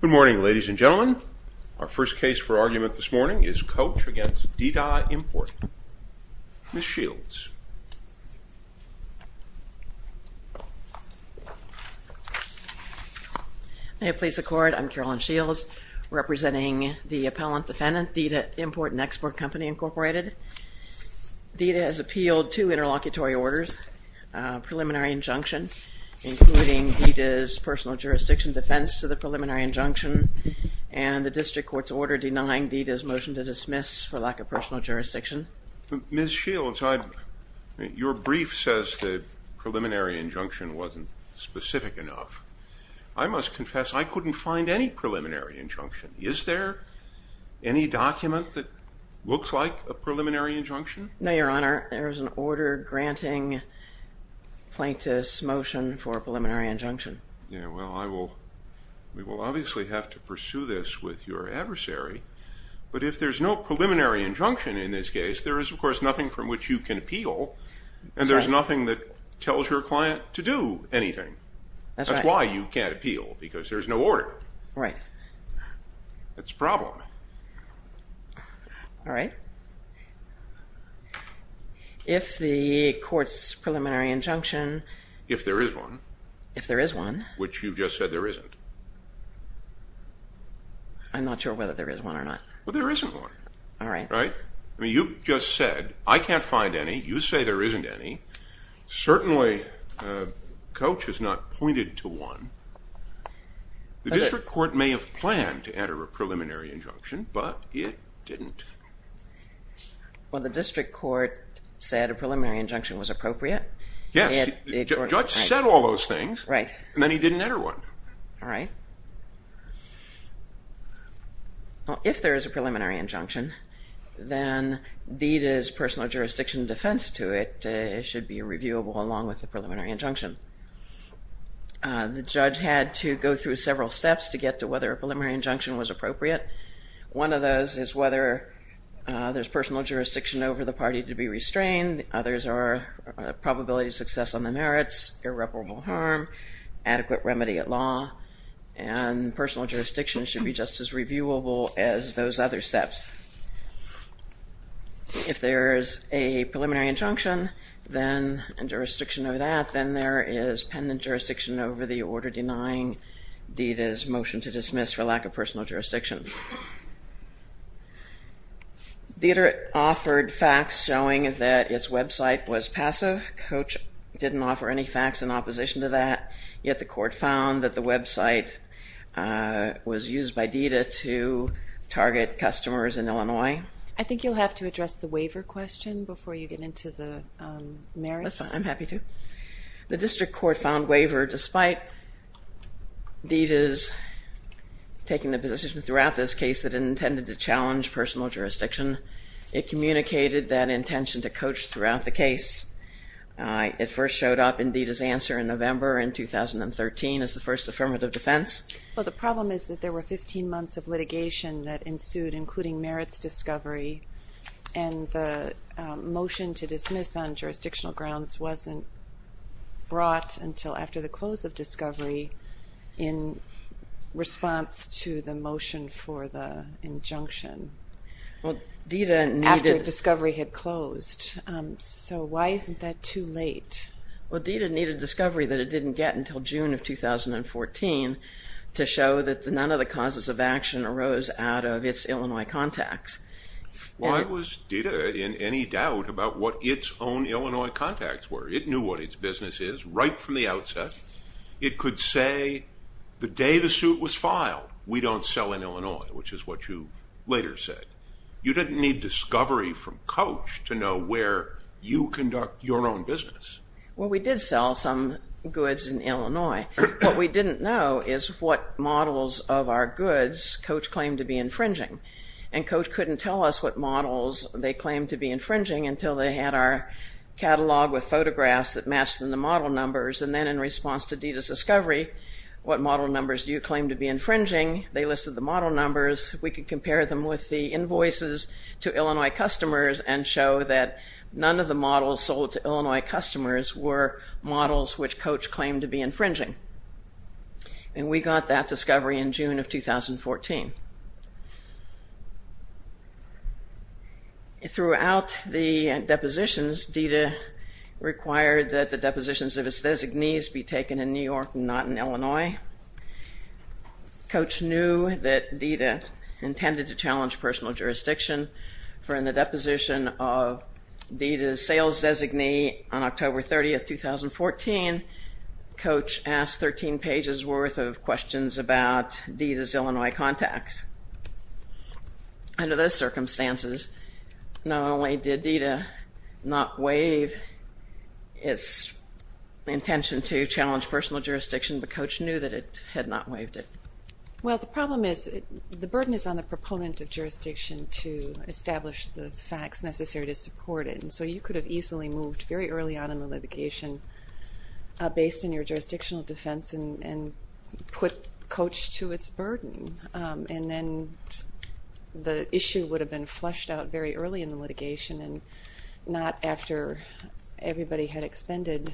Good morning, ladies and gentlemen. Our first case for argument this morning is Coach v. Di Da Import. Ms. Shields. May it please the Court, I'm Carolyn Shields, representing the appellant defendant, Di Da Import and Export, Inc. Di Da has appealed two interlocutory orders, a preliminary injunction, including Di Da's personal jurisdiction defense to the preliminary injunction, and the District Court's order denying Di Da's motion to dismiss for lack of personal jurisdiction. Ms. Shields, your brief says the preliminary injunction wasn't specific enough. I must confess, I couldn't find any preliminary injunction. Is there any document that looks like a preliminary injunction? No, Your Honor, there is an order granting plaintiff's motion for a preliminary injunction. Yeah, well, I will, we will obviously have to pursue this with your adversary, but if there's no preliminary injunction in this case, there is, of course, nothing from which you can appeal, and there's nothing that tells your client to do anything. That's why you can't appeal, because there's no order. Right. That's the problem. All right. If the Court's preliminary injunction... If there is one. If there is one. Which you just said there isn't. I'm not sure whether there is one or not. Well, there isn't one. All right. Right? I mean, you just said, I can't find any, you say there isn't any, certainly Coach has not pointed to one. The District Court may have planned to enter a preliminary injunction, but it didn't. Well, the District Court said a preliminary injunction was appropriate. Yes. The Judge said all those things. Right. And then he didn't enter one. All right. Well, if there is a preliminary injunction, then deed is personal jurisdiction defense to it. It should be reviewable along with the preliminary injunction. The Judge had to go through several steps to get to whether a preliminary injunction was appropriate. One of those is whether there's personal jurisdiction over the party to be restrained. Others are probability of success on the merits, irreparable harm, adequate remedy at law, and personal jurisdiction should be just as reviewable as those other steps. If there is a preliminary injunction, then, and jurisdiction over that, then there is pendant jurisdiction over the order denying deed is motion to dismiss for lack of personal jurisdiction. Deeder offered facts showing that its website was passive. Coach didn't offer any facts in opposition to that. Yet the Court found that the website was used by Deeder to target customers in Illinois. I think you'll have to address the waiver question before you get into the merits. I'm happy to. The District Court found waiver despite Deeder's taking the position throughout this case that it intended to challenge personal jurisdiction. It communicated that intention to Coach throughout the case. It first showed up in Deeder's answer in November in 2013 as the first affirmative defense. Well, the problem is that there were 15 months of litigation that ensued including merits discovery, and the motion to dismiss on jurisdictional grounds wasn't brought until after the close of discovery in response to the motion for the injunction after discovery had closed. So why isn't that too late? Well, Deeder needed discovery that it didn't get until June of 2014 to show that none of the causes of action arose out of its Illinois contacts. Why was Deeder in any doubt about what its own Illinois contacts were? It knew what its business is right from the outset. It could say the day the suit was filed, we don't sell in Illinois, which is what you later said. You didn't need discovery from Coach to know where you conduct your own business. Well, we did sell some goods in Illinois. What we didn't know is what models of our goods Coach claimed to be infringing. And Coach couldn't tell us what models they claimed to be infringing until they had our catalog with photographs that matched them to model numbers, and then in response to Deeder's discovery, what model numbers do you claim to be infringing? They listed the model numbers. We could compare them with the invoices to Illinois customers and show that none of the models sold to Illinois customers were models which Coach claimed to be infringing. And we got that discovery in June of 2014. Throughout the depositions, Deeder required that the depositions of its designees be taken in New York and not in Illinois. Coach knew that Deeder intended to challenge personal jurisdiction, for in the deposition of Deeder's sales designee on October 30, 2014, Coach asked 13 pages worth of questions about facts. Under those circumstances, not only did Deeder not waive its intention to challenge personal jurisdiction, but Coach knew that it had not waived it. Well, the problem is the burden is on the proponent of jurisdiction to establish the facts necessary to support it, and so you could have easily moved very early on in the litigation based on your jurisdictional defense and put Coach to its burden, and then the issue would have been fleshed out very early in the litigation and not after everybody had expended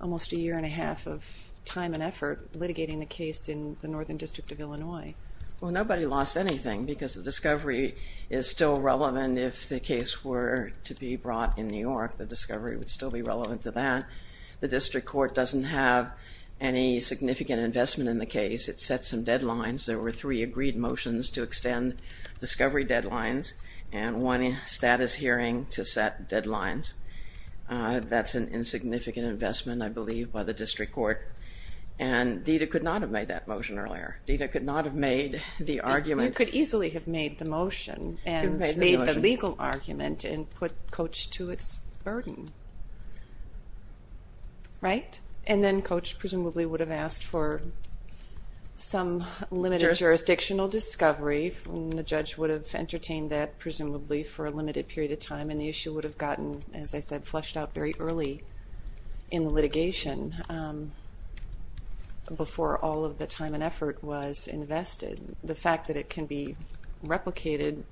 almost a year and a half of time and effort litigating the case in the Northern District of Illinois. Well, nobody lost anything because the discovery is still relevant if the case were to be brought in New York. The discovery would still be relevant to that. The district court doesn't have any significant investment in the case. It set some deadlines. There were three agreed motions to extend discovery deadlines and one status hearing to set deadlines. That's an insignificant investment, I believe, by the district court, and Deeder could not have made that motion earlier. Deeder could not have made the argument You could easily have made the motion and made the legal argument and put Coach to its burden. Right? And then Coach presumably would have asked for some limited jurisdictional discovery, and the judge would have entertained that presumably for a limited period of time, and the issue would have gotten, as I said, fleshed out very early in the litigation before all of the time and effort was invested. The fact that it can be replicated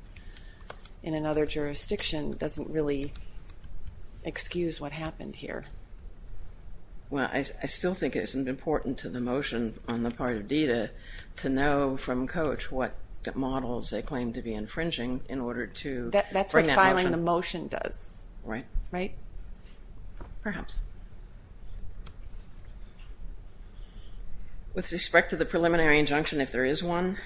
in another jurisdiction doesn't really excuse what happened here. Well, I still think it's important to the motion on the part of Deeder to know from Coach what models they claim to be infringing in order to break that motion. That's what filing the motion does. Right? Perhaps. With respect to the preliminary injunction, if there is one,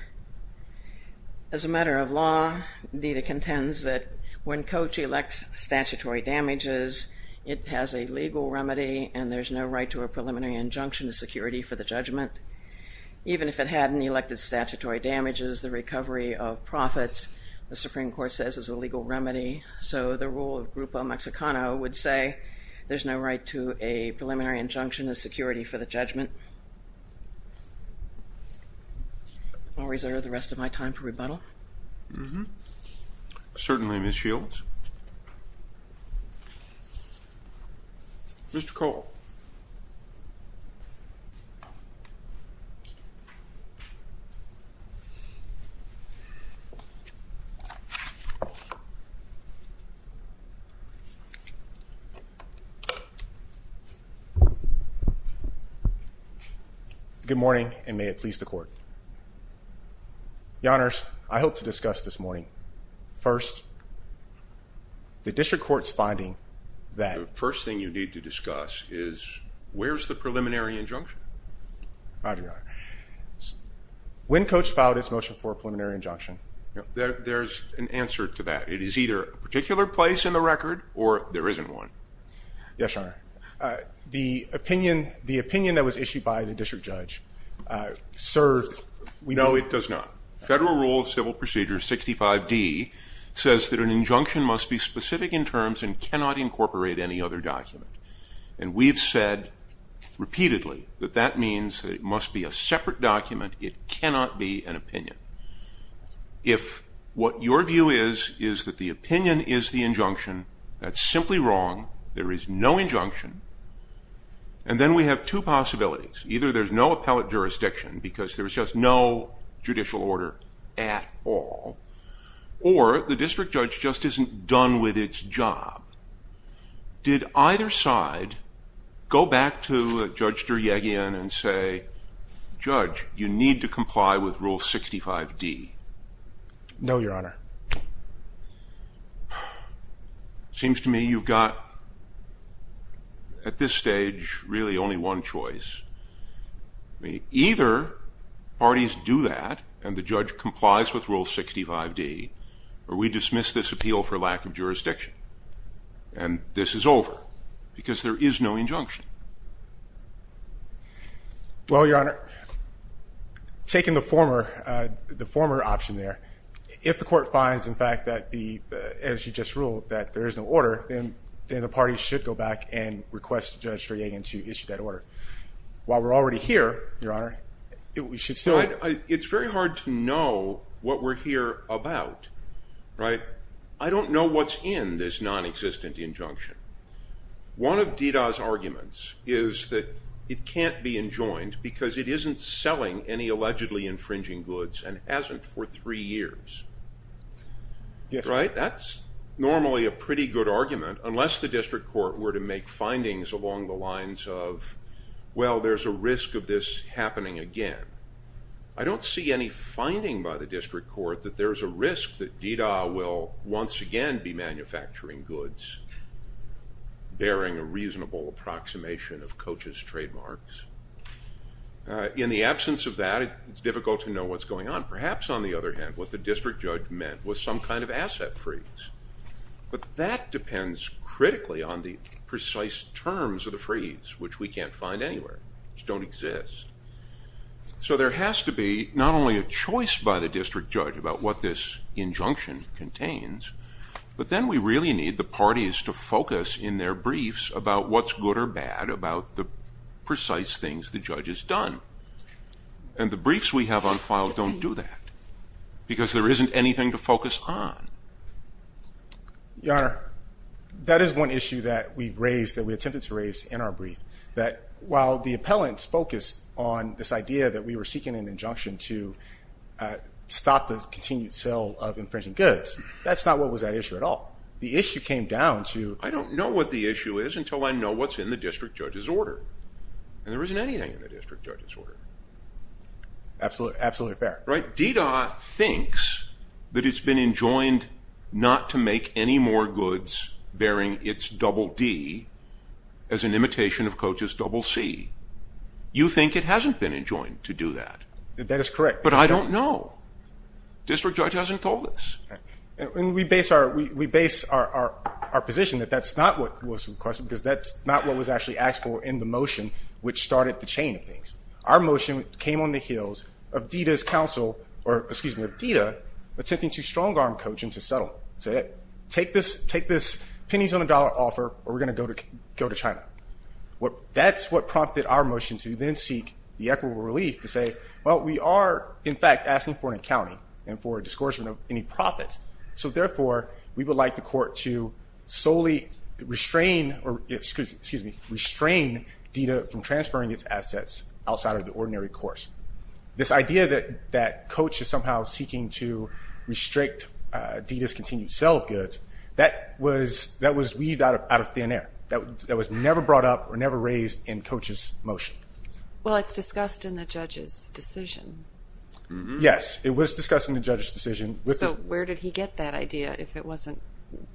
as a matter of law, Deeder contends that when Coach elects statutory damages it has a legal remedy and there's no right to a preliminary injunction as security for the judgment. Even if it hadn't elected statutory damages the recovery of profits, the Supreme Court says is a legal remedy so the rule of Grupo Mexicano would say there's no right to a preliminary injunction as security for the judgment. I'll reserve the rest of my time for rebuttal. Certainly, Ms. Shields. Mr. Cole. Good morning and may it please the Court. Your Honor, I hope to discuss this morning. First, the District Court's finding that The first thing you need to discuss is where's the preliminary injunction? Roger, Your Honor. When Coach filed his motion for a preliminary injunction. There's an answer to that. It is either a particular place in the record or there isn't one. Yes, Your Honor. The opinion that was issued by the District Judge served. No, it does not. Federal Rule of Civil Procedure 65D says that an injunction must be specific in terms and cannot incorporate any other document. And we've said repeatedly that that means it must be a separate document it cannot be an opinion. If what your view is, is that the opinion is the injunction, that's simply wrong. There is no injunction. And then we have two possibilities. Either there's no appellate jurisdiction because there's just no judicial order at all or the District Judge just isn't done with its job. Did either side go back to Judge Duryagian and say, Judge, you need to comply with Rule 65D? No, Your Honor. Seems to me you've got at this stage really only one choice. Either parties do that and the judge complies with Rule 65D or we dismiss this appeal for lack of jurisdiction. And this is over because there is no injunction. Well, Your Honor, taking the former option there, if the court finds, in fact, that the, as you just ruled, that there is no order then the parties should go back and request Judge Duryagian to issue that order. While we're already here, Your Honor, we should still It's very hard to know what we're here about. I don't know what's in this non-existent injunction. One of DDA's arguments is that it can't be enjoined because it isn't selling any allegedly infringing goods and hasn't for three years. Right? That's normally a pretty good argument unless the district court were to make findings along the lines of well, there's a risk of this happening again. I don't see any finding by the district court that there's a risk that DDA will once again be manufacturing goods bearing a reasonable approximation of Coach's trademarks. In the absence of that, it's difficult to know what's going on. Perhaps, on the other hand, what the district judge meant was some kind of asset freeze. But that depends critically on the precise terms of the freeze, which we can't find anywhere, which don't exist. So there has to be not only a choice by the district judge about what this injunction contains, but then we really need the parties to focus in their briefs about what's good or bad about the precise things the judge has done. And the briefs we have on file don't do that because there isn't anything to focus on. Your Honor, that is one issue that we've raised, that we attempted to raise in our brief that while the appellants focused on this idea that we were seeking an injunction to stop the continued sale of infringing goods, that's not what was at issue at all. The issue came down to I don't know what the issue is until I know what's in the district judge's order. And there isn't anything in the district judge's order. Absolutely fair. DEDA thinks that it's been enjoined not to make any more goods bearing its double D as an imitation of Coach's double C. You think it hasn't been enjoined to do that. That is correct. But I don't know. District judge hasn't told us. We base our position that that's not what was requested in the motion which started the chain of things. Our motion came on the heels of DEDA attempting to strong-arm Coach and to settle. Take this pennies on the dollar offer or we're going to go to China. That's what prompted our motion to then seek the equitable relief to say well we are in fact asking for an accounting and for a discouragement of any profits. So therefore we would like the court to solely restrain DEDA from transferring its assets outside of the ordinary course. This idea that Coach is somehow seeking to restrict DEDA's continued sale of goods, that was weaved out of thin air. That was never brought up or never raised in Coach's motion. Well it's discussed in the judge's decision. Yes. It was discussed in the judge's decision. So where did he get that idea if it wasn't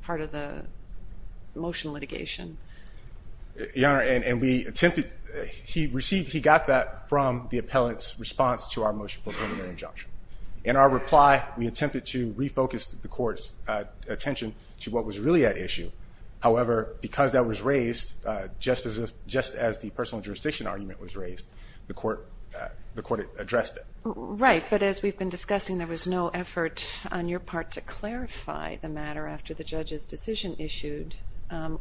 part of the motion litigation? Your Honor, and we attempted, he received, he got that from the appellant's response to our motion for a preliminary injunction. In our reply, we attempted to refocus the court's attention to what was really at issue. However, because that was raised just as the personal jurisdiction argument was raised, the court addressed it. Right, but as we've been discussing, there was no effort on your part to clarify the matter after the judge's decision issued,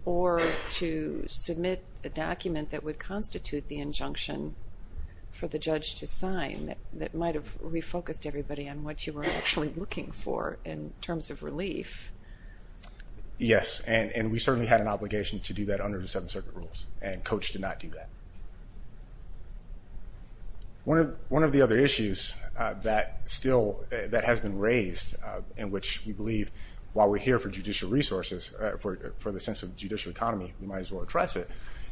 or to submit a document that would constitute the injunction for the judge to sign that might have refocused everybody on what you were actually looking for in terms of relief. Yes, and we certainly had an obligation to do that under the Seventh Circuit rules, and Coach did not do that. One of the other issues that still, that has been raised, in which we believe while we're here for judicial resources, for the sense of judicial economy, we might as well address it,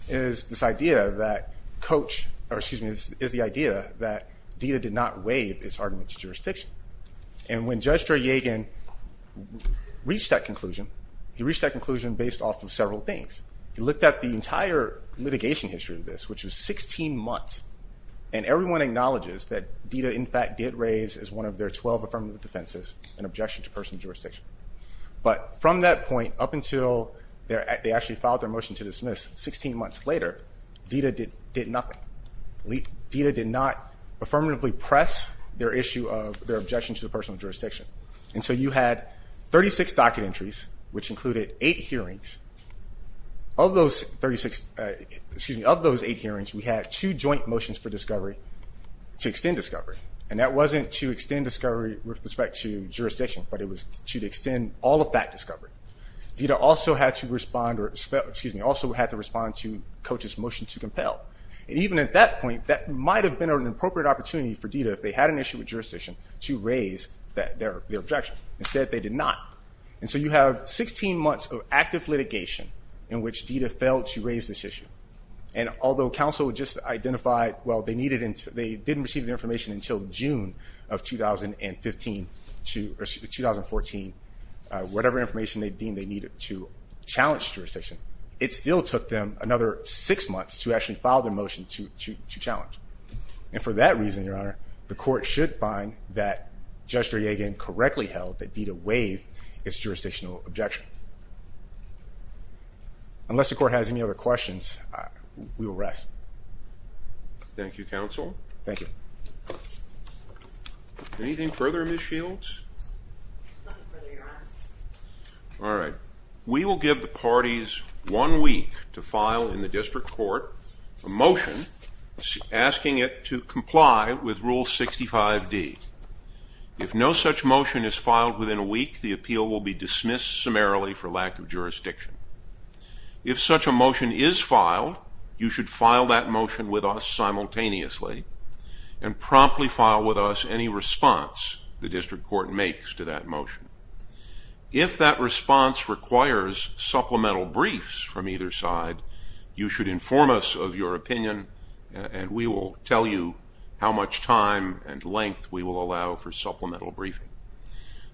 is this idea that Coach, or excuse me, is the idea that DITA did not waive its argument to jurisdiction. And when Judge Draygen reached that conclusion, he reached that conclusion based off of several things. He looked at the entire litigation history of this, which was 16 months, and everyone acknowledges that DITA in fact did raise as one of their 12 affirmative defenses an objection to personal jurisdiction. But from that point up until they actually filed their motion to dismiss 16 months later, DITA did nothing. DITA did not affirmatively press their issue of their objection to the personal jurisdiction. And so you had 36 docket entries, which included 8 hearings. Of those 36, excuse me, of those 8 hearings, we had 2 joint motions for discovery, to extend discovery. And that wasn't to extend discovery with respect to jurisdiction, but it was to extend all of that discovery. DITA also had to respond to Coach's motion to compel. And even at that point, that might have been an appropriate opportunity for DITA, if they had an issue with jurisdiction, to raise their objection. Instead, they did not. And so you have 16 months of active litigation in which DITA failed to raise this issue. And although counsel had just identified, well, they didn't receive the information until June of 2015, or 2014, whatever information they deemed they needed to challenge jurisdiction, it still took them another 6 months to actually file their motion to challenge. And for that reason, Your Honor, the court should find that Judge Duryagan correctly held that DITA waived its jurisdictional objection. Unless the court has any other questions, we will rest. Thank you, counsel. Anything further, Ms. Shields? All right. We will give the parties one week to file in the district court a motion asking it to comply with Rule 65D. If no such motion is filed within a week, the appeal will be dismissed summarily for lack of jurisdiction. If such a motion is filed, you should file that motion with us simultaneously and promptly file with us any response the district court makes to that motion. If that response requires supplemental briefs from either side, you should inform us of your opinion, and we will tell you how much time and length we will allow for supplemental briefing.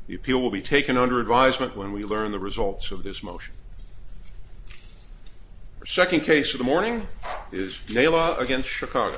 The appeal will be taken under advisement when we learn the results of this motion. The second case of the morning is Nala v. Chicago.